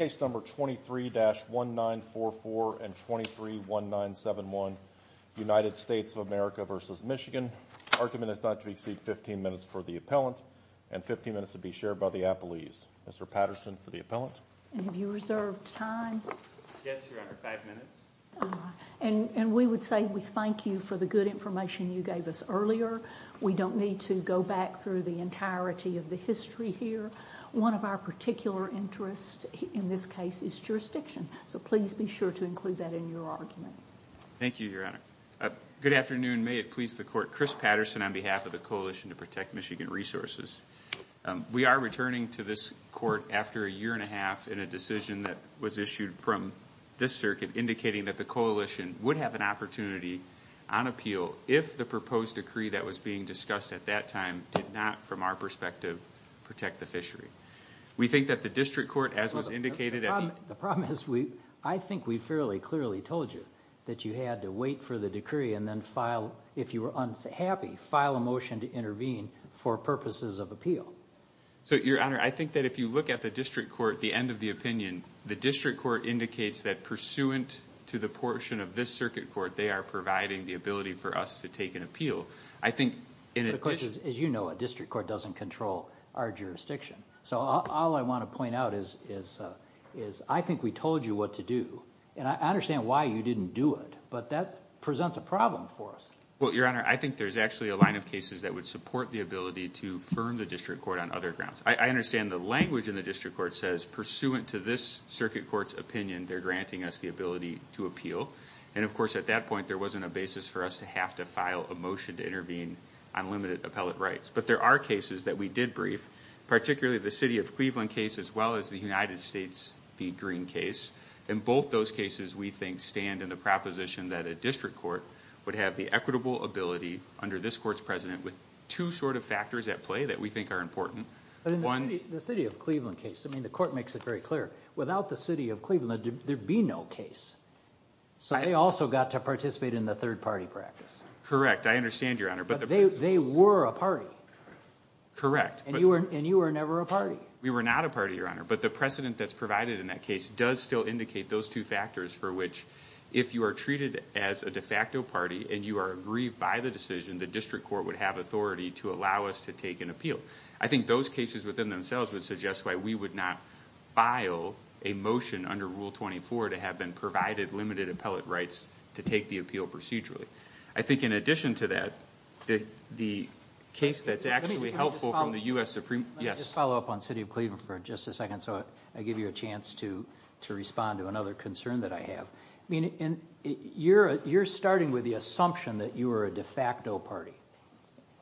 23-1944 and 23-1971, United States of America v. Michigan, argument is not to exceed 15 minutes for the appellant and 15 minutes to be shared by the appellees. Mr. Patterson for the appellant. And we would say we thank you for the good information you gave us earlier. We don't need to go back through the entirety of the history here. One of our particular interests in this case is jurisdiction. So please be sure to include that in your argument. Thank you, Your Honor. Good afternoon. May it please the court, Chris Patterson on behalf of the Coalition to Protect Michigan Resources. We are returning to this court after a year and a half in a decision that was issued from this circuit indicating that the coalition would have an opportunity on appeal if the proposed decree that was being discussed at that time did not, from our perspective, protect the fishery. We think that the district court, as was indicated at the... The problem is, I think we fairly clearly told you that you had to wait for the decree and then file, if you were happy, file a motion to intervene for purposes of appeal. So, Your Honor, I think that if you look at the district court, the end of the opinion, the district court indicates that pursuant to the portion of this circuit court, they are providing the ability for us to take an appeal. I think the question is, as you know, a district court doesn't control our jurisdiction. So all I want to point out is, I think we told you what to do. And I understand why you didn't do it, but that presents a problem for us. Well, Your Honor, I think there's actually a line of cases that would support the ability to firm the district court on other grounds. I understand the language in the district court says, pursuant to this circuit court's opinion, they're granting us the ability to appeal. And of course, at that point, there wasn't a basis for us to have to file a motion to intervene on limited appellate rights. But there are cases that we did brief, particularly the City of Cleveland case, as well as the United States v. Green case. And both those cases, we think, stand in the proposition that a district court would have the equitable ability, under this court's president, with two sort of factors at play that we think are important. But in the City of Cleveland case, I mean, the court makes it very clear, without the City of Cleveland, there'd be no case. So they also got to participate in the third party practice. Correct. I understand, Your Honor. But they were a party. Correct. And you were never a party. We were not a party, Your Honor. But the precedent that's provided in that case does still indicate those two factors for which, if you are treated as a de facto party, and you are aggrieved by the decision, the district court would have authority to allow us to take an appeal. I think those cases within themselves would suggest why we would not file a motion under Rule 24 to have been provided limited appellate rights to take the appeal procedurally. I think in addition to that, the case that's actually helpful from the U.S. Supreme... Let me just follow up on City of Cleveland for just a second so I give you a chance to respond to another concern that I have. You're starting with the assumption that you were a de facto party.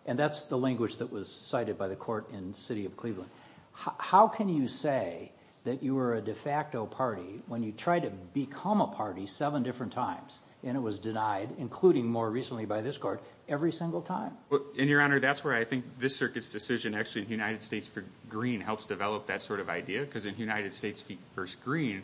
And that's the language that was cited by the court in City of Cleveland. How can you say that you were a de facto party when you tried to become a party seven different times and it was denied, including more recently by this court, every single time? And, Your Honor, that's where I think this circuit's decision actually in the United States v. Green helps develop that sort of idea. Because in the United States v. Green,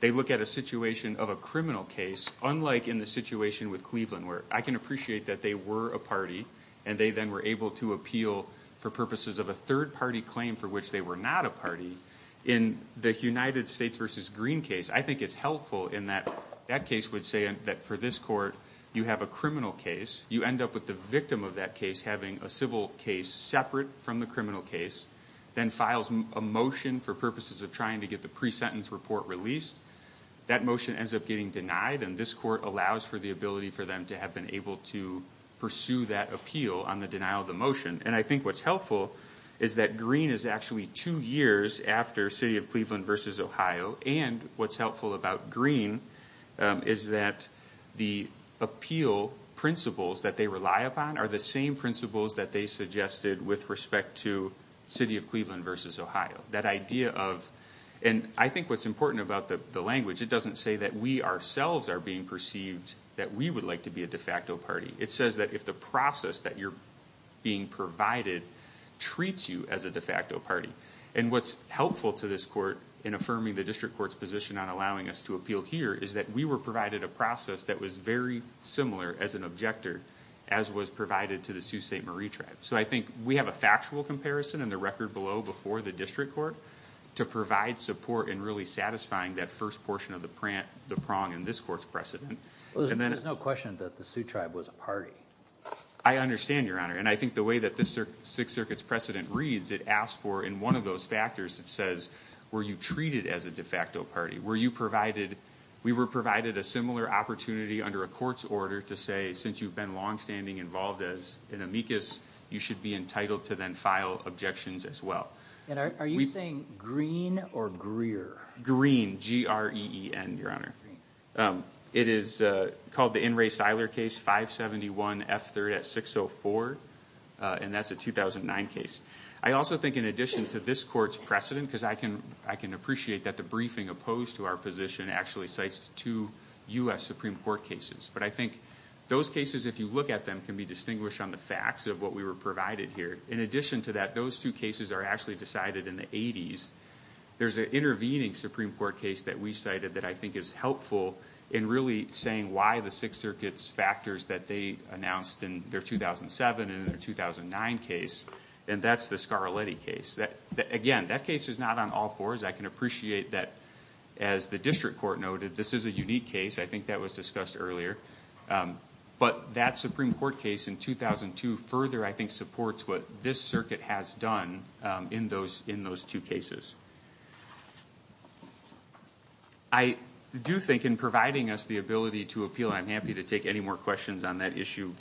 they look at a situation of a criminal case unlike in the situation with Cleveland where I can appreciate that they were a party and they then were able to appeal for purposes of a third-party claim for which they were not a party. In the United States v. Green case, I think it's helpful in that that case would say that for this court, you have a criminal case. You end up with the victim of that case having a civil case separate from the criminal case, then files a motion for purposes of trying to get the pre-sentence report released. That motion ends up getting denied and this court allows for the ability for them to have been able to pursue that appeal on the denial of the motion. And I think what's helpful is that Green is actually two years after City of Cleveland v. Ohio and what's helpful about Green is that the appeal principles that they rely upon are the same principles that they suggested with respect to City of Cleveland v. Ohio. That idea of, and I think what's important about the language, it doesn't say that we ourselves are being perceived that we would like to be a de facto party. It says that if the process that you're being provided treats you as a de facto party. And what's helpful to this court in affirming the district court's position on allowing us to appeal here is that we were provided a process that was very similar as an objector, as was provided to the Sioux St. Marie tribe. So I think we have a factual comparison in the record below before the district court to provide support in really satisfying that first portion of the prong in this court's precedent. There's no question that the Sioux tribe was a party. I understand, Your Honor, and I think the way that this Sixth Circuit's precedent reads, it asks for in one of those factors, it says, were you treated as a de facto party? Were you provided, we were provided a similar opportunity under a court's order to say since you've been long standing involved as an amicus, you should be entitled to then file objections as well. And are you saying Greene or Greer? Greene, G-R-E-E-N, Your Honor. It is called the In Re Siler case, 571 F3rd at 604, and that's a 2009 case. I also think in addition to this court's precedent, because I can appreciate that the briefing opposed to our position actually cites two U.S. Supreme Court cases, but I think those cases, if you look at them, can be distinguished on the facts of what we were provided here. In addition to that, those two cases are actually decided in the 80s. There's an intervening Supreme Court case that we cited that I think is helpful in really saying why the Sixth Circuit's factors that they announced in their 2007 and in their 2009 case, and that's the Scarletti case. Again, that case is not on all fours. I can appreciate that as the district court noted, this is a unique case. I think that was discussed earlier, but that Supreme Court case in 2002 further, I think, supports what this circuit has done in those two cases. I do think in providing us the ability to appeal, I'm happy to take any more questions on that issue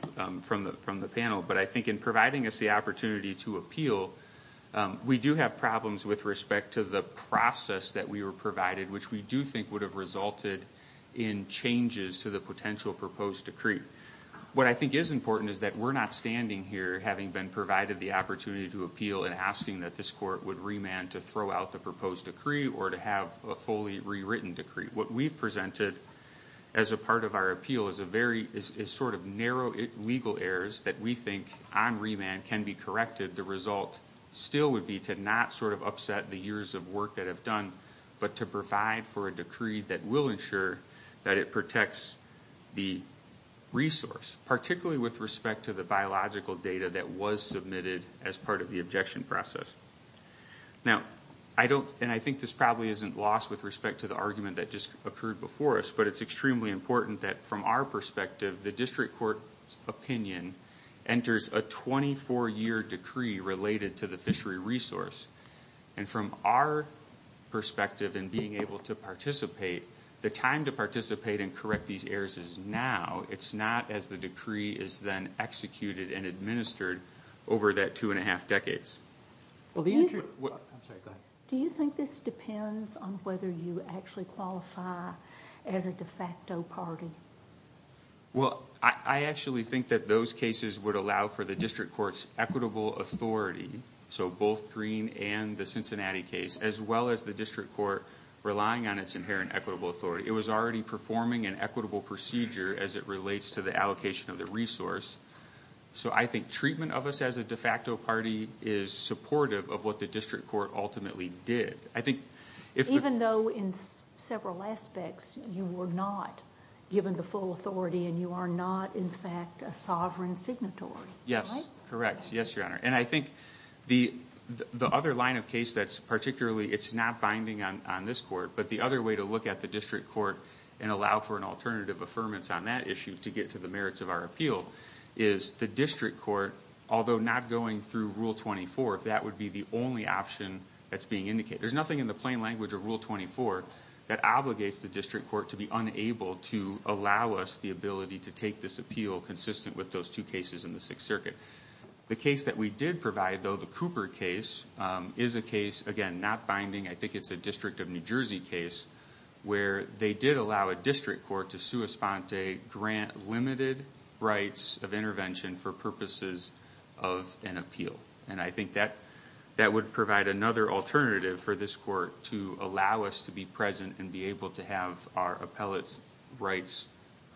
from the panel, but I think in providing us the opportunity to appeal, we do have problems with respect to the process that we were provided, which we do think would have resulted in changes to the potential proposed decree. What I think is important is that we're not standing here having been provided the opportunity to appeal and asking that this court would remand to throw out the proposed decree or to have a fully rewritten decree. What we've presented as a part of our appeal is sort of narrow legal errors that we think on remand can be corrected. The result still would be to not sort of upset the years of work that have done, but to provide for a decree that will ensure that it protects the resource, particularly with respect to the biological data that was submitted as part of the objection process. I think this probably isn't lost with respect to the argument that just occurred before us, but it's extremely important that from our perspective, the district court's opinion enters a 24-year decree related to the fishery resource. From our perspective and being able to participate, the time to participate and correct these errors is now. It's not as the decree is then executed and administered over that two-and-a-half decades. Do you think this depends on whether you actually qualify as a de facto party? I actually think that those cases would allow for the district court's equitable authority, so both Greene and the Cincinnati case, as well as the district court relying on its inherent equitable authority. It was already performing an equitable procedure as it relates to the allocation of the resource. I think treatment of us as a de facto party is supportive of what the district court ultimately did. Even though in several aspects you were not given the full authority and you are not, in fact, a sovereign signatory, right? Yes, correct. Yes, Your Honor. I think the other line of case that's particularly... It's not binding on this court, but the other way to look at the district court and allow for an alternative affirmance on that issue to get to the merits of our appeal is the district court, although not going through Rule 24, that would be the only option that's being indicated. There's nothing in the plain language of Rule 24 that obligates the district court to be unable to allow us the ability to take this appeal consistent with those two cases in the Sixth Circuit. The case that we did provide, though, the Cooper case, is a case, again, not binding. I think it's a District of New Jersey case where they did allow a district court to sua sponte, grant limited rights of intervention for purposes of an appeal. I think that would provide another alternative for this court to allow us to be present and be able to have our appellate's rights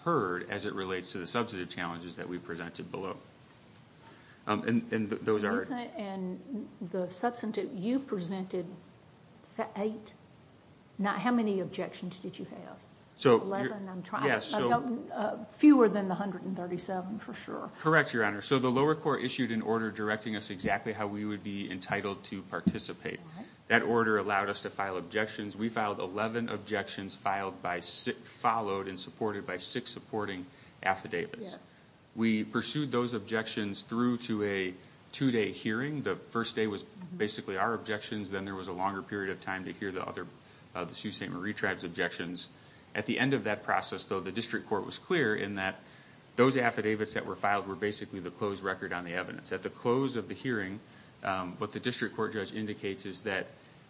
heard as it relates to the substantive challenges that we've presented below. Those are... The substantive... You presented eight? How many objections did you have? Eleven? I'm trying to... Yes, so... Fewer than the 137, for sure. Correct, Your Honor. The lower court issued an order directing us exactly how we would be entitled to participate. That order allowed us to file objections. We filed 11 objections followed and supported by six supporting affidavits. We pursued those objections through to a two day hearing. The first day was basically our objections. Then there was a longer period of time to hear the other, the Sioux St. Marie tribe's objections. At the end of that process, though, the district court was clear in that those affidavits that were filed were basically the closed record on the evidence. At the close of the hearing, what the district court judge indicates is that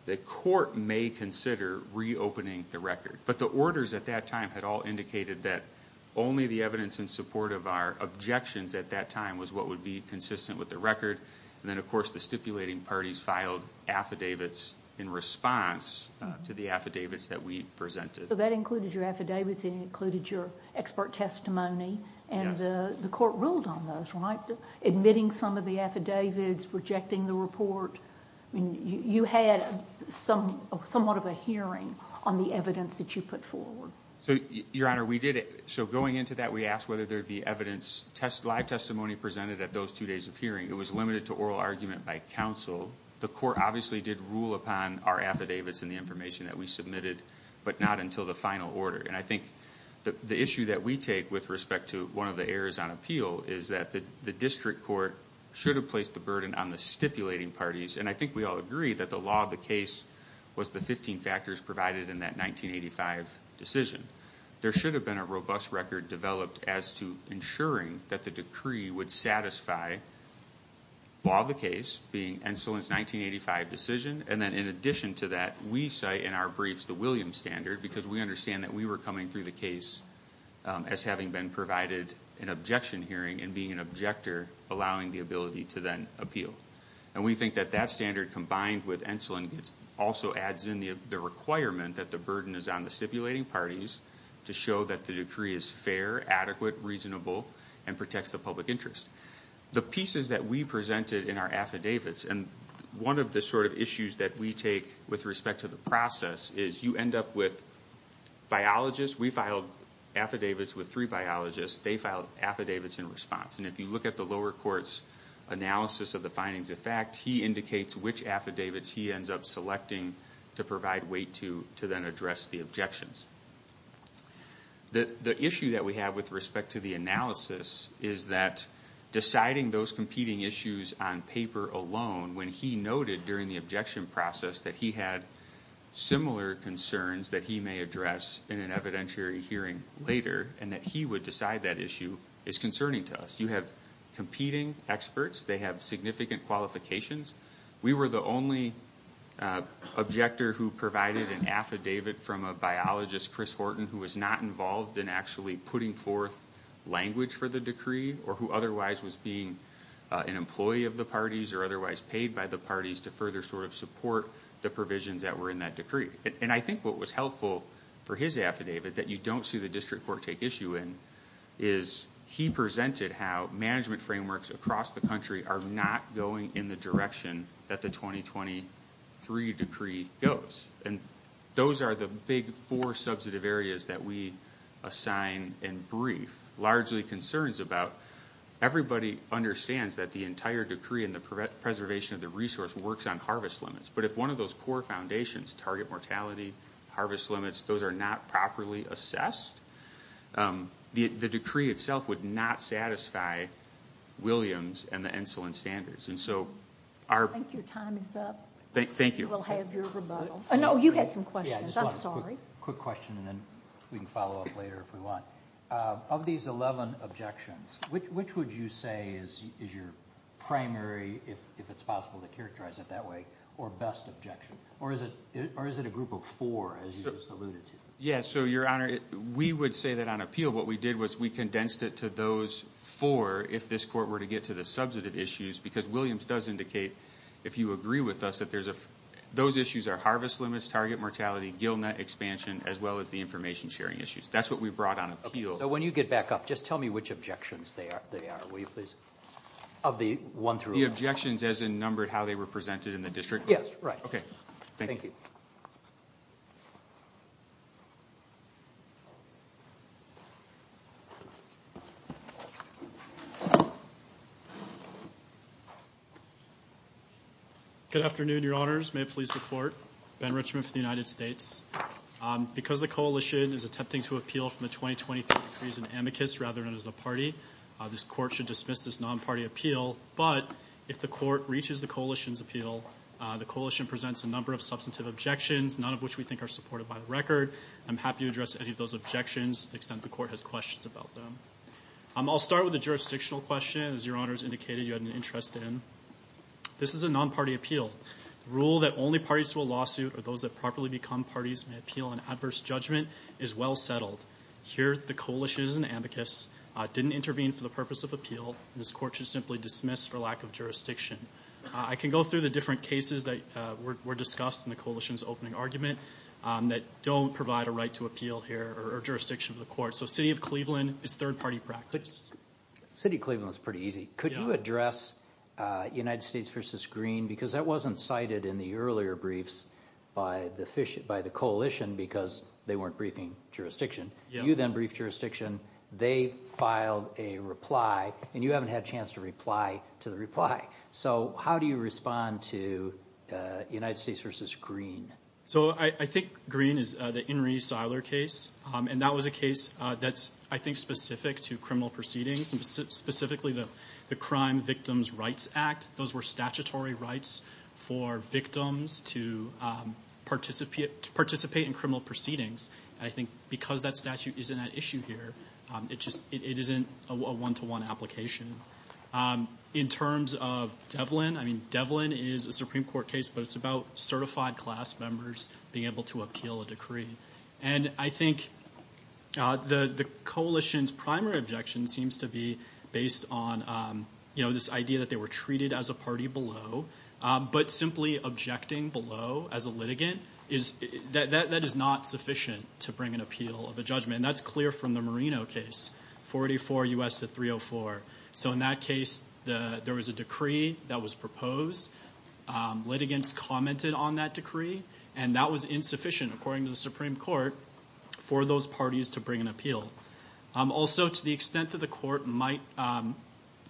the court may consider reopening the record. The orders at that time had all indicated that only the evidence in support of our objections at that time was what would be consistent with the record. Then, of course, the stipulating parties filed affidavits in response to the affidavits that we presented. That included your affidavits. It included your expert testimony. Yes. The court ruled on those, right? Admitting some of the affidavits, rejecting the report. You had somewhat of a hearing on the evidence that you put forward. Your Honor, we did it. Going into that, we asked whether there would be evidence, live testimony presented at those two days of hearing. It was limited to oral argument by counsel. The court obviously did rule upon our affidavits and the information that we submitted, but not until the final order. I think the issue that we take with respect to one of the errors on appeal is that the district court should have placed the burden on the stipulating parties. I think we all agree that the law of the case was the 15 factors provided in that 1985 decision. There should have been a robust record developed as to ensuring that the decree would satisfy the law of the case, being Enslin's 1985 decision. In addition to that, we cite in our briefs the Williams Standard because we understand that we were coming through the case as having been provided an objection hearing and being an objector, allowing the ability to then appeal. We think that that standard combined with Enslin also adds in the requirement that the burden is on the stipulating parties to show that the decree is fair, adequate, reasonable, and protects the public interest. The pieces that we presented in our affidavits, and one of the sort of issues that we take with respect to the process, is you end up with biologists. We filed affidavits with three biologists. They filed affidavits in response. If you look at the lower court's analysis of the findings of fact, he indicates which affidavits he ends up selecting to provide weight to then address the objections. The issue that we have with respect to the analysis is that deciding those competing issues on paper alone, when he noted during the objection process that he had similar concerns that he may address in an evidentiary hearing later, and that he would decide that issue is concerning to us. You have competing experts. They have significant qualifications. We were the only objector who provided an affidavit from a biologist, Chris Horton, who was not involved in actually putting forth language for the decree, or who otherwise was being an employee of the parties, or otherwise paid by the parties to further sort of support the provisions that were in that decree. I think what was helpful for his affidavit, that you don't see the district court take issue in, is he presented how management frameworks across the country are not going in the direction that the 2023 decree goes. Those are the big four substantive areas that we assign and everybody understands that the entire decree and the preservation of the resource works on harvest limits, but if one of those core foundations, target mortality, harvest limits, those are not properly assessed, the decree itself would not satisfy Williams and the insulin standards. I think your time is up. Thank you. We'll have your rebuttal. No, you had some questions. I'm sorry. Just one quick question, and then we can follow up later if we want. Of these 11 objections, which would you say is your primary, if it's possible to characterize it that way, or best objection? Or is it a group of four, as you just alluded to? Yes, so your honor, we would say that on appeal, what we did was we condensed it to those four if this court were to get to the substantive issues, because Williams does indicate, if you agree with us, that those issues are harvest limits, target mortality, gill net expansion, as well as the information sharing issues. That's what we brought on appeal. When you get back up, just tell me which objections they are, will you please? Of the one through 11. The objections as in number, how they were presented in the district court? Yes, right. Okay, thank you. Good afternoon, your honors. May it please the court. Ben Richmond for the United States. Because the coalition is attempting to appeal from the 2020 case in amicus, rather than as a party, this court should dismiss this non-party appeal, but if the court reaches the coalition's appeal, the coalition presents a number of substantive objections, none of which we think are supported by the record. I'm happy to address any of those objections to the extent the court has questions about them. I'll start with the jurisdictional question, as your honors indicated you had an interest in. This is a non-party appeal. The rule that only parties to a lawsuit are those that properly become parties may appeal an adverse judgment is well settled. Here, the coalition is in amicus, didn't intervene for the purpose of appeal, this court should simply dismiss for lack of jurisdiction. I can go through the different cases that were discussed in the coalition's opening argument that don't provide a right to appeal here or jurisdiction of the court. So City of Cleveland is third-party practice. City of Cleveland is pretty easy. Could you address United States v. Green because that wasn't cited in the earlier briefs by the coalition because they weren't briefing jurisdiction. You then briefed jurisdiction. They filed a reply, and you haven't had a chance to reply to the reply. So how do you respond to United States v. Green? So I think Green is the Inree Seiler case, and that was a case that's I think specific to criminal proceedings, specifically the Crime Victims' Rights Act. Those were statutory rights for victims to participate in criminal proceedings. I think because that statute isn't at issue here, it just isn't a one-to-one application. In terms of Devlin, I mean, Devlin is a Supreme Court case, but it's about certified class members being able to appeal a decree. And I think the coalition's primary objection seems to be based on this idea that they were treated as a party below, but simply objecting below as a litigant, that is not sufficient to bring an appeal of a judgment. That's clear from the Marino case, 44 U.S. to 304. So in that case, there was a decree that was proposed. Litigants commented on that decree, and that was insufficient, according to the Supreme Court, for those parties to bring an appeal. Also, to the extent that the court might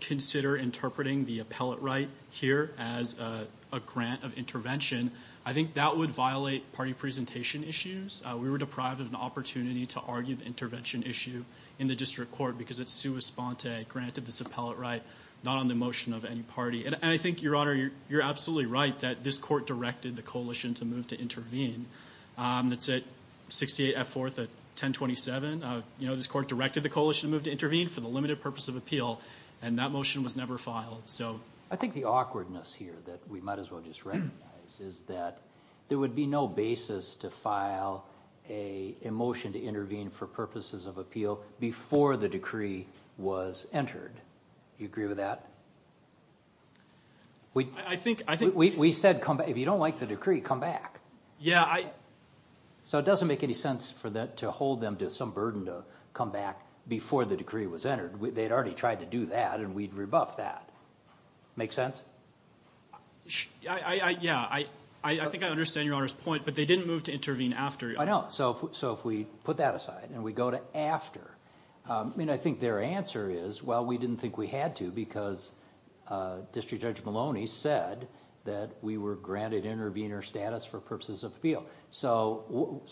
consider interpreting the appellate right here as a grant of intervention, I think that would violate party presentation issues. We were deprived of an opportunity to argue the intervention issue in the district court because it's sua sponte, granted this appellate right, not on the motion of any party. And I think, Your Honor, you're absolutely right that this court directed the coalition to move to intervene. That's at 68 F. 4th at 1027. This court directed the coalition to move to intervene for the limited purpose of appeal, and that motion was never filed. I think the awkwardness here that we might as well just recognize is that there would be no basis to file a motion to intervene for purposes of appeal before the decree was entered. Do you agree with that? I think... We said, if you don't like the decree, come back. Yeah, I... So it doesn't make any sense to hold them to some burden to come back before the decree was entered. They'd already tried to do that, and we'd rebuff that. Make sense? Yeah, I think I understand Your Honor's point, but they didn't move to intervene after. I know. So if we put that aside, and we go to after, I think their answer is, well, we didn't think we had to because District Judge Maloney said that we were granted intervener status for purposes of appeal. So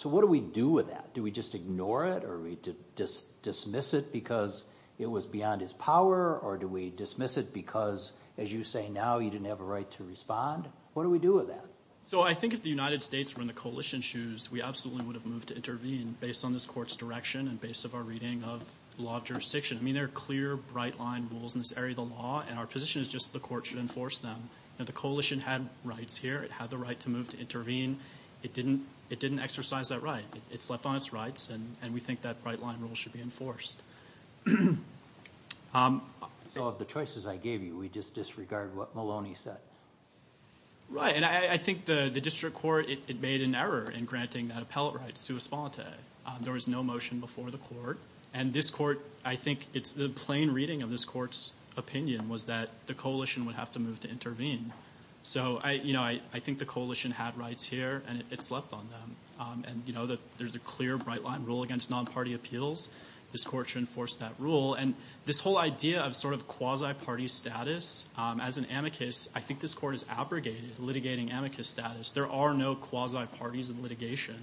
what do we do with that? Do we just ignore it, or do we dismiss it because it was beyond his power, or do we dismiss it because, as you say now, he didn't have a right to respond? What do we do with that? So I think if the United States were in the coalition's shoes, we absolutely would have moved to intervene based on this court's direction and based on our reading of law of jurisdiction. I mean, there are clear, bright-line rules in this area of the law, and our position is just the court should enforce them. The coalition had rights here. It had the right to move to intervene. It didn't exercise that right. It slept on its rights, and we think that bright-line rule should be enforced. So of the choices I gave you, we just disregard what Maloney said? Right, and I think the district court, it made an error in granting that appellate right to a sponte. There was no motion before the court, and this court, I think the plain reading of this court's opinion was that the coalition would have to move to intervene. So I think the coalition had rights here, and it slept on them, and there's a clear, bright-line rule against non-party appeals. This court should enforce that rule, and this whole idea of sort of quasi-party status as an amicus, I think this court is abrogating, litigating amicus status. There are no quasi-parties in litigation,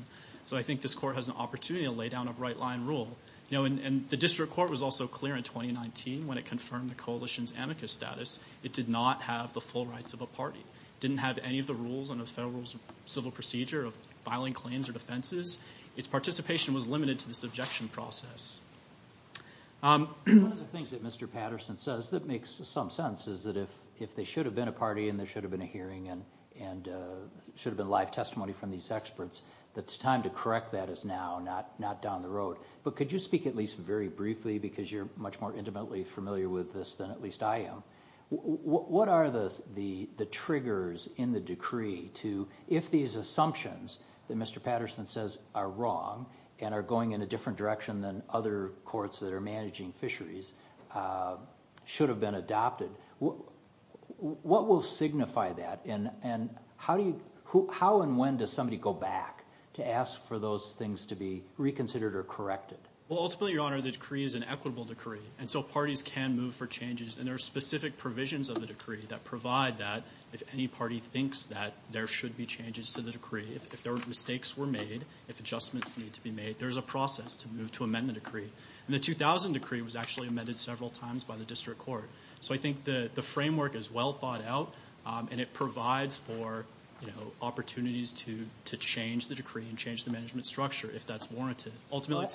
so I think this court has an opportunity to lay down a bright-line rule. You know, and the district court was also clear in 2019 when it confirmed the coalition's amicus status. It did not have the full rights of a party. Didn't have any of the rules under the Federal Civil Procedure of filing claims or defenses. Its participation was limited to this objection process. One of the things that Mr. Patterson says that makes some sense is that if there should have been a party and there should have been a hearing and there should have been live testimony from these experts, that it's time to correct that as now, not down the road. But could you speak at least very briefly, because you're much more intimately familiar with this than at least I am. What are the triggers in the decree to, if these assumptions that Mr. Patterson says are wrong and are going in a different direction than other courts that are managing fisheries, should have been adopted, what will signify that? How and when does somebody go back to ask for those things to be reconsidered or corrected? Well, ultimately, Your Honor, the decree is an equitable decree, and so parties can move for changes. And there are specific provisions of the decree that provide that if any party thinks that there should be changes to the decree, if mistakes were made, if adjustments need to be made, there's a process to move to amend the decree. And the 2000 decree was actually amended several times by the district court. So I think the framework is well thought out, and it provides for opportunities to change the decree and change the management structure if that's warranted.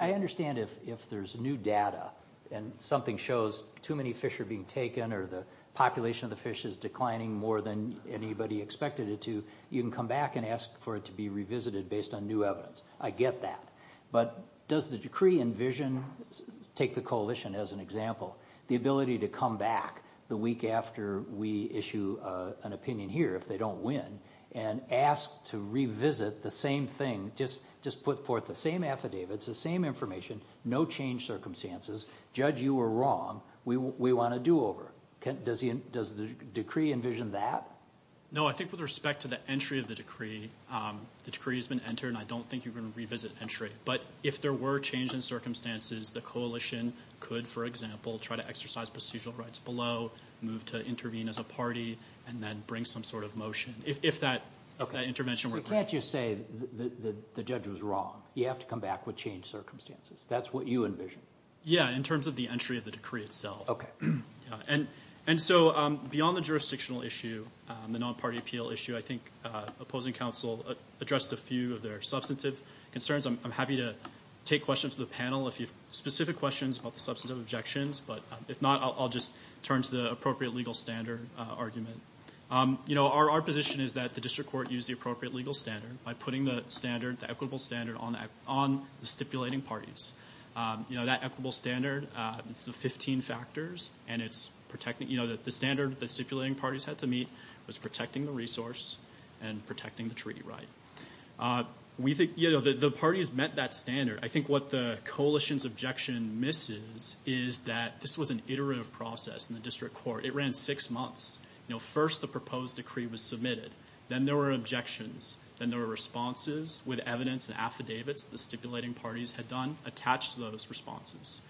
I understand if there's new data and something shows too many fish are being taken or the population of the fish is declining more than anybody expected it to, you can come back and ask for it to be revisited based on new evidence. I get that. But does the decree envision, take the coalition as an example, the ability to come back the week after we issue an opinion here, if they don't win, and ask to revisit the same thing, just put forth the same affidavits, the same information, no change circumstances, judge you were wrong, we want a do-over. Does the decree envision that? No, I think with respect to the entry of the decree, the decree has been entered and I don't think you're going to revisit entry. But if there were change in circumstances, the coalition could, for example, try to exercise procedural rights below, move to intervene as a party, and then bring some sort of motion. If that intervention were granted. You can't just say the judge was wrong. You have to come back with changed circumstances. That's what you envision. Yeah, in terms of the entry of the decree itself. And so beyond the jurisdictional issue, the non-party appeal issue, I think opposing counsel addressed a few of their substantive concerns. I'm happy to take questions of the panel if you have specific questions about the substantive objections, but if not, I'll just turn to the appropriate legal standard argument. Our position is that the district court use the appropriate legal standard by putting the standard, the equitable standard, on the stipulating parties. You know, that equitable standard, it's the 15 factors and it's protecting, you know, the standard that stipulating parties had to meet was protecting the resource and protecting the treaty right. We think, you know, the parties met that standard. I think what the coalition's objection misses is that this was an iterative process in the district court. It ran six months. You know, first the proposed decree was submitted. Then there were objections. Then there were responses with evidence and affidavits the stipulating parties had done attached to those responses.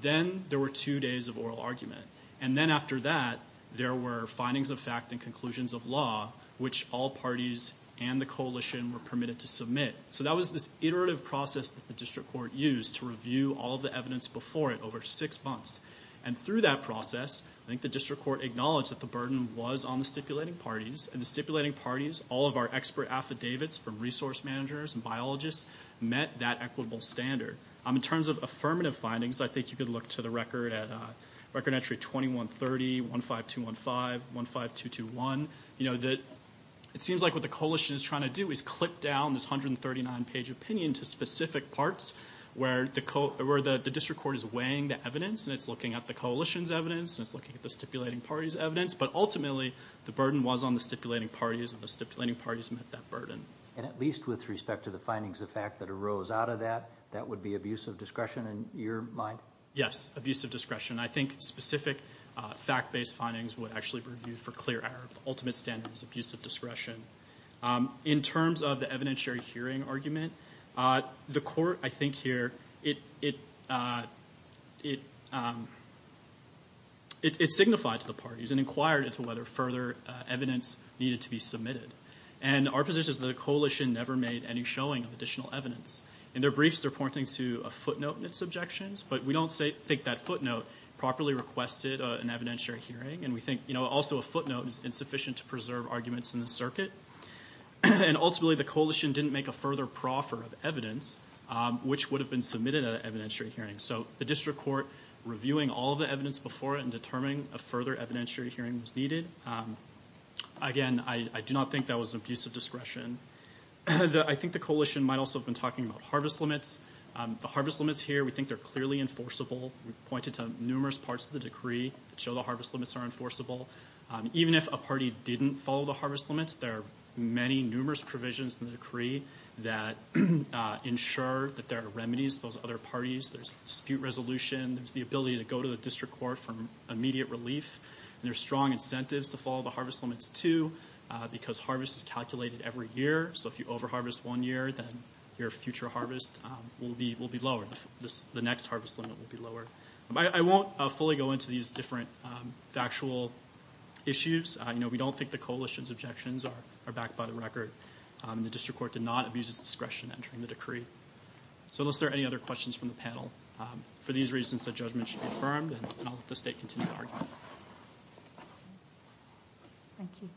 Then there were two days of oral argument. And then after that, there were findings of fact and conclusions of law, which all parties and the coalition were permitted to submit. So that was this iterative process that the district court used to review all the evidence before it over six months. And through that process, I think the district court acknowledged that the burden was on the stipulating parties. And the stipulating parties, all of our expert affidavits from resource managers and biologists, met that equitable standard. In terms of affirmative findings, I think you could look to the record at record entry 2130, 15215, 15221. You know, it seems like what the coalition is trying to do is clip down this 139-page opinion to specific parts where the district court is weighing the evidence, and it's looking at the coalition's evidence, and it's looking at the stipulating party's evidence. But ultimately, the burden was on the stipulating parties, and the stipulating fact that arose out of that, that would be abuse of discretion in your mind? Yes, abuse of discretion. I think specific fact-based findings would actually be reviewed for clear error. The ultimate standard is abuse of discretion. In terms of the evidentiary hearing argument, the court, I think here, it signified to the parties and inquired into whether further evidence needed to be submitted. And our position is that the coalition never made any showing of additional evidence. In their briefs, they're pointing to a footnote in its objections, but we don't think that footnote properly requested an evidentiary hearing. And we think, you know, also a footnote is insufficient to preserve arguments in the circuit. And ultimately, the coalition didn't make a further proffer of evidence, which would have been submitted at an evidentiary hearing. So the district court reviewing all the evidence before it and determining a further evidentiary hearing was needed. Again, I do not think that was an abuse of discretion. I think the coalition might also have been talking about harvest limits. The harvest limits here, we think they're clearly enforceable. We pointed to numerous parts of the decree that show the harvest limits are enforceable. Even if a party didn't follow the harvest limits, there are many numerous provisions in the decree that ensure that there are remedies for those other parties. There's dispute resolution. There's the ability to go to the district court for immediate relief. And there's strong calculated every year. So if you overharvest one year, then your future harvest will be lower. The next harvest limit will be lower. I won't fully go into these different factual issues. You know, we don't think the coalition's objections are backed by the record. The district court did not abuse its discretion entering the decree. So unless there are any other questions from the panel, for these reasons, the judgment should be affirmed and I'll let the state continue to argue on it. Thank you.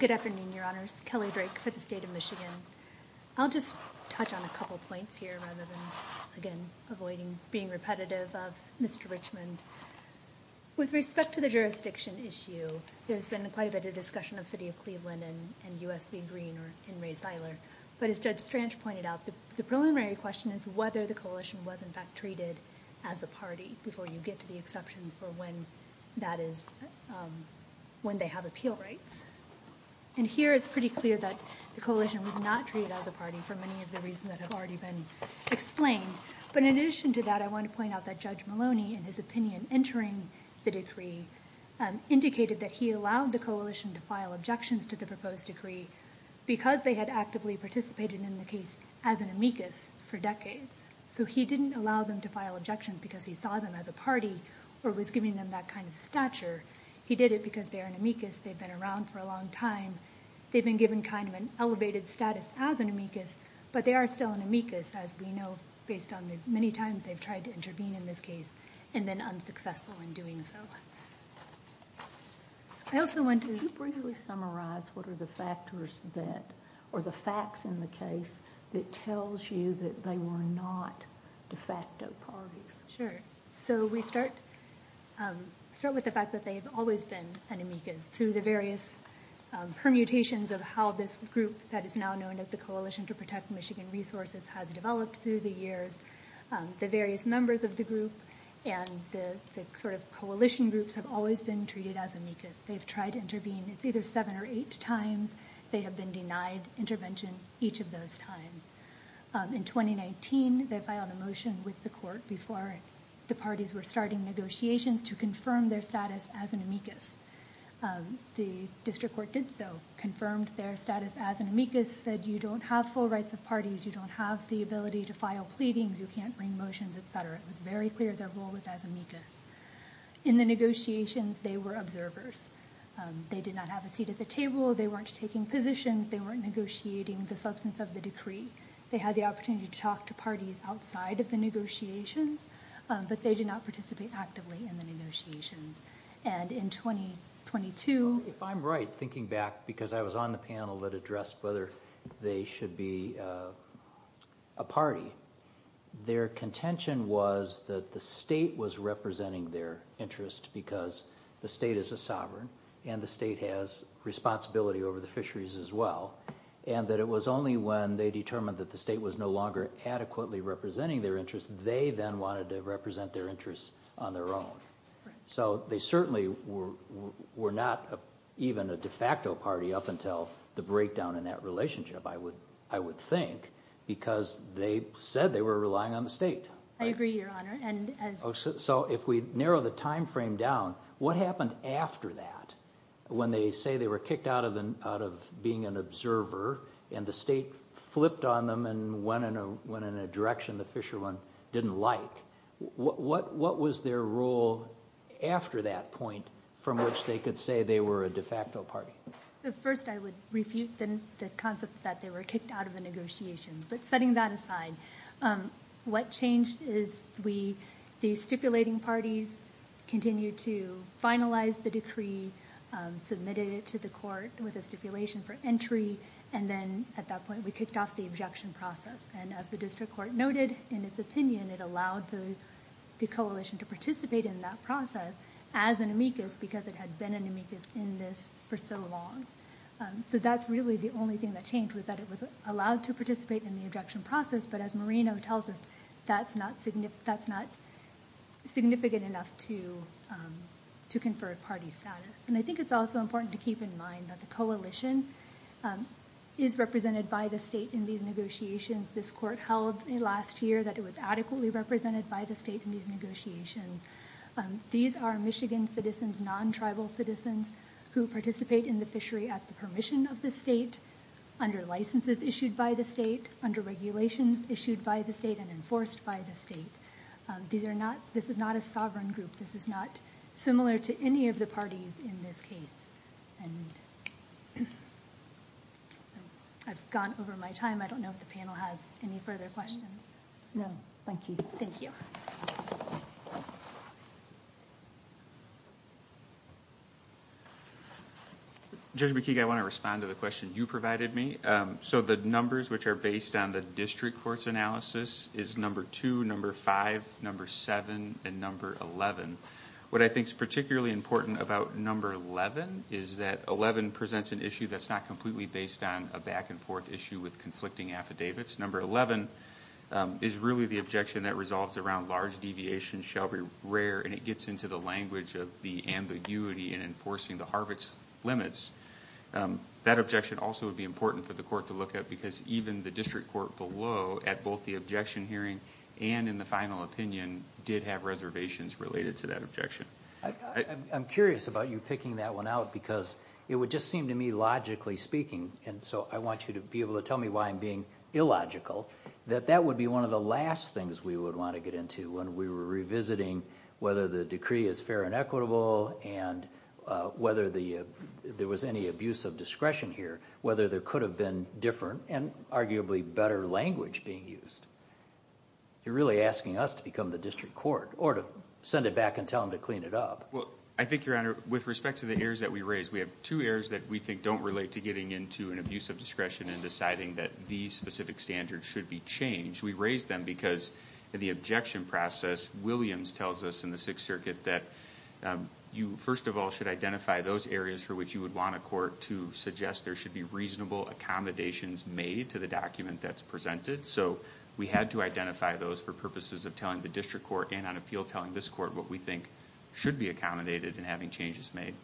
Good afternoon, your honors. Kelly Drake for the state of Michigan. I'll just touch on a couple points here rather than, again, avoiding being repetitive of Mr. Richmond. With respect to the jurisdiction issue, there's been quite a bit of discussion of city of Cleveland and U.S. being green or in Ray Seiler. But as Judge Strange pointed out, the preliminary question is whether the coalition was in fact treated as a party before you get to the exceptions for when that is, when they have appeal rights. And here it's pretty clear that the coalition was not treated as a party for many of the reasons that have already been explained. But in addition to that, I want to point out that Judge Maloney, in his opinion, entering the decree indicated that he allowed the coalition to file objections to the proposed decree because they had actively participated in the case as an amicus for decades. So he didn't allow them to file objections because he saw them as a party or was giving them that kind of stature. He did it because they are an amicus. They've been around for a long time. They've been given kind of an elevated status as an amicus, but they are still an amicus as we know, based on the many times they've tried to intervene in this case and then unsuccessful in doing so. I also want to briefly summarize what are the factors that, or the facts in the case that tells you that they were not de facto parties. Sure. So we start with the fact that they've always been an amicus through the various permutations of how this group that is now known as the Coalition to Protect Michigan Resources has developed through the years. The various members of the group and the sort of coalition groups have always been treated as amicus. They've tried to intervene, it's either seven or eight times. They have been denied intervention each of those times. In 2019, they filed a motion with the court before the parties were starting negotiations to confirm their status as an amicus. The district court did so, confirmed their status as an amicus, said you don't have full rights of parties, you don't have the ability to file pleadings, you can't bring motions, etc. It was very clear their role was as amicus. In the negotiations, they were observers. They did not have a seat at the table, they weren't taking positions, they weren't negotiating the substance of the decree. They had the opportunity to talk to parties outside of the negotiations, but they did not participate actively in the negotiations. And in 2022... If I'm right, thinking back, because I was on the panel that addressed whether they should be a party, their contention was that the state was representing their interest because the state is a sovereign, and the state has responsibility over the fisheries as well, and that it was only when they determined that the state was no longer adequately representing their interest, they then wanted to represent their interests on their own. So they certainly were not even a de facto party up until the breakdown in that relationship, I would think, because they said they were relying on the state. I agree, Your Honor. So if we narrow the time frame down, what happened after that? When they say they were kicked out of being an observer, and the state flipped on them and went in a direction the Fisherman didn't like, what was their role after that point from which they could say they were a de facto party? First I would refute the concept that they were kicked out of the negotiations, but setting that aside, what changed is the stipulating parties continued to finalize the decree, submitted it to the court with a stipulation for entry, and then at that point we kicked off the objection process. And as the district court noted in its opinion, it allowed the coalition to participate in that process as an amicus because it had been an amicus in this for so long. So that's really the only thing that changed was that it was allowed to participate in the objection process, but as Moreno tells us, that's not significant enough to confer party status. And I think it's also important to keep in mind that the coalition is represented by the state in these negotiations. This court held last year that it was adequately represented by the state in these negotiations. These are Michigan citizens, non-tribal citizens, who participate in the fishery at the permission of the state, under licenses issued by the state, under regulations issued by the state, and enforced by the state. This is not a sovereign over my time. I don't know if the panel has any further questions. No, thank you. Thank you. Judge McKeague, I want to respond to the question you provided me. So the numbers which are based on the district court's analysis is number 2, number 5, number 7, and number 11. What I think is particularly important about number 11 is that 11 presents an issue that's not completely based on a back-and-forth issue with conflicting affidavits. Number 11 is really the objection that resolves around large deviations shall be rare, and it gets into the language of the ambiguity in enforcing the Harvard's limits. That objection also would be important for the court to look at, because even the district court below, at both the objection hearing and in the final opinion, did have reservations related to that objection. I'm curious about you picking that one out, because it would just seem to me logically speaking, and so I want you to be able to tell me why I'm being illogical, that that would be one of the last things we would want to get into when we were revisiting whether the decree is fair and equitable, and whether there was any abuse of discretion here, whether there could have been different and arguably better language being used. You're really asking us to become the district court, or to send it back and tell them to clean it up. Well, I think, Your Honor, with respect to the errors that we raised, we have two errors that we think don't relate to getting into an abuse of discretion and deciding that these specific standards should be changed. We raised them because in the objection process, Williams tells us in the Sixth Circuit that you, first of all, should identify those areas for which you would want a court to suggest there should be reasonable accommodations made to the document that's presented. So we had to identify those for purposes of telling the district court and on appeal telling this court what we think should be accommodated in having changes made.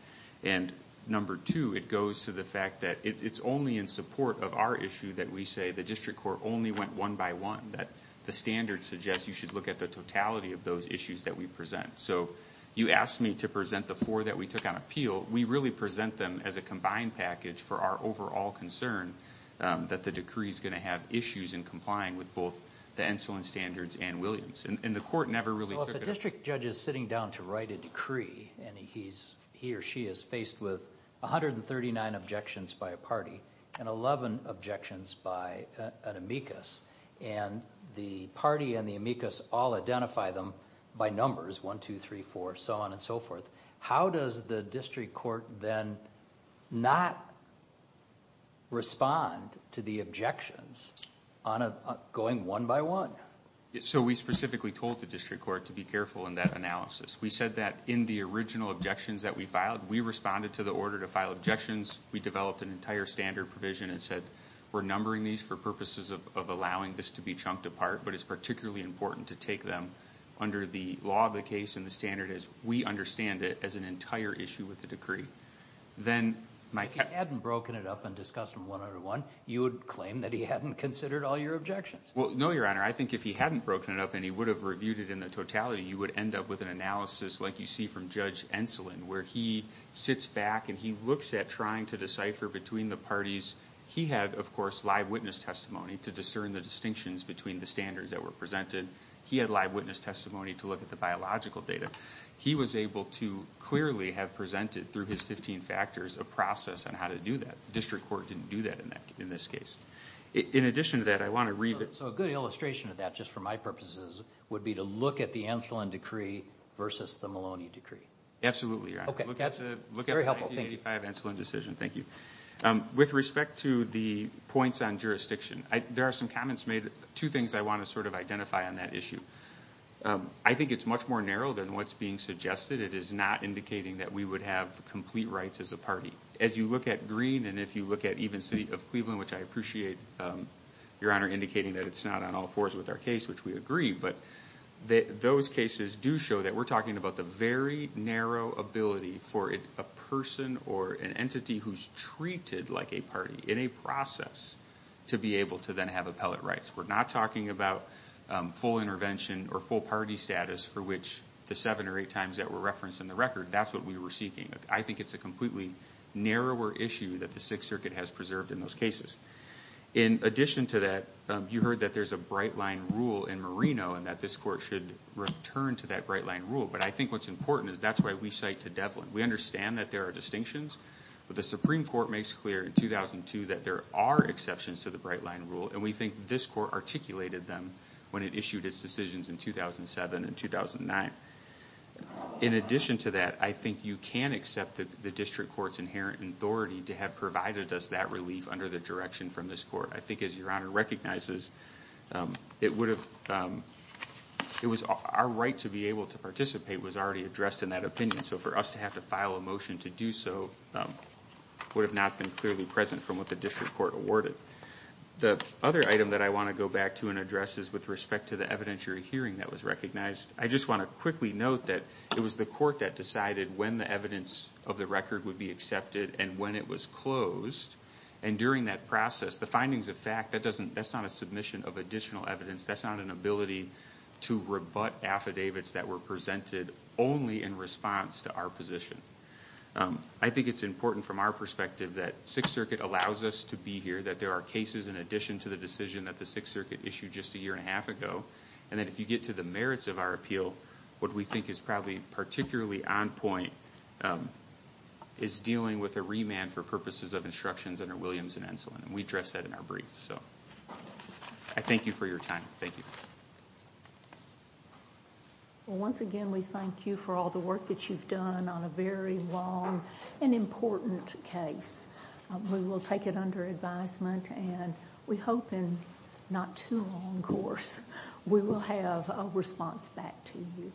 And number two, it goes to the fact that it's only in support of our issue that we say the district court only went one by one, that the standards suggest you should look at the totality of those issues that we present. So you asked me to present the four that we took on appeal. We really present them as a combined package for our overall concern that the decree is going to have issues in complying with both the insulin standards and Williams. And the court never really took it up. So if a district judge is sitting down to write a decree and he or she is faced with 139 objections by a party and 11 objections by an amicus, and the party and the amicus all identify them by numbers, 1, 2, 3, 4, so on and so forth, how does the district court then not respond to the objections going one by one? So we specifically told the district court to be careful in that analysis. We said that in the original objections that we filed, we responded to the order to file objections. We developed an entire standard provision and said, we're numbering these for purposes of allowing this to be chunked apart, but it's particularly important to take them under the law of the case and the standard as we understand it as an entire issue with the If he hadn't broken it up and discussed them one on one, you would claim that he hadn't considered all your objections? Well, no, Your Honor. I think if he hadn't broken it up and he would have reviewed it in the totality, you would end up with an analysis like you see from Judge Enslin, where he sits back and he looks at trying to decipher between the parties. He had, of course, live witness testimony to discern the distinctions between the standards that were presented. He had live witness testimony to look at the biological data. He was able to clearly have presented, through his 15 factors, a process on how to do that. The district court didn't do that in this case. In addition to that, I want to read the So a good illustration of that, just for my purposes, would be to look at the Enslin Decree versus the Maloney Decree. Absolutely, Your Honor. Look at the 1985 Enslin decision. Thank you. With respect to the points on jurisdiction, there are some comments made, two things I want to sort of identify on that issue. I think it's much more narrow than what's being suggested. It is not indicating that we would have complete rights as a party. As you look at Green and if you look at even City of Cleveland, which I appreciate, Your Honor, indicating that it's not on all fours with our case, which we agree, but those cases do show that we're talking about the very narrow ability for a person or an entity who's treated like a party, in a process, to be able to then have appellate rights. We're not talking about full intervention or full party status for which the seven or eight times that were referenced in the record. That's what we were seeking. I think it's a completely narrower issue that the Sixth Circuit has preserved in those cases. In addition to that, you heard that there's a bright line rule in Merino and that this court should return to that bright line rule. I think what's important is that's why we cite to Devlin. We understand that there are distinctions, but the Supreme Court makes clear in 2002 that there are exceptions to the bright line rule and we think this court articulated them when it issued its decisions in 2007 and 2009. In addition to that, I think you can accept the district court's inherent authority to have provided us that relief under the direction from this court. I think as Your Honor recognizes, it was our right to be able to participate was already addressed in that opinion. For us to have to file a motion to do so would have not been clearly present from what the district court awarded. The other item that I want to go back to and address is with respect to the evidentiary hearing that was recognized. I just want to quickly note that it was the court that decided when the evidence of the record would be accepted and when it was closed. During that process, the findings of fact, that's not a submission of additional evidence. That's not an ability to rebut affidavits that were presented only in response to our position. I think it's important from our perspective that Sixth Circuit allows us to be here, that there are cases in addition to the decision that the Sixth Circuit issued just a year and a half ago, and that if you get to the merits of our appeal, what we think is probably particularly on point is dealing with a remand for purposes of instructions under Williams and Enslin. We address that in our brief. I thank you for your time. Thank you. Once again, we thank you for all the work that you've done on a very long and important case. We will take it under advisement and we hope in not too long course, we will have a response back to you.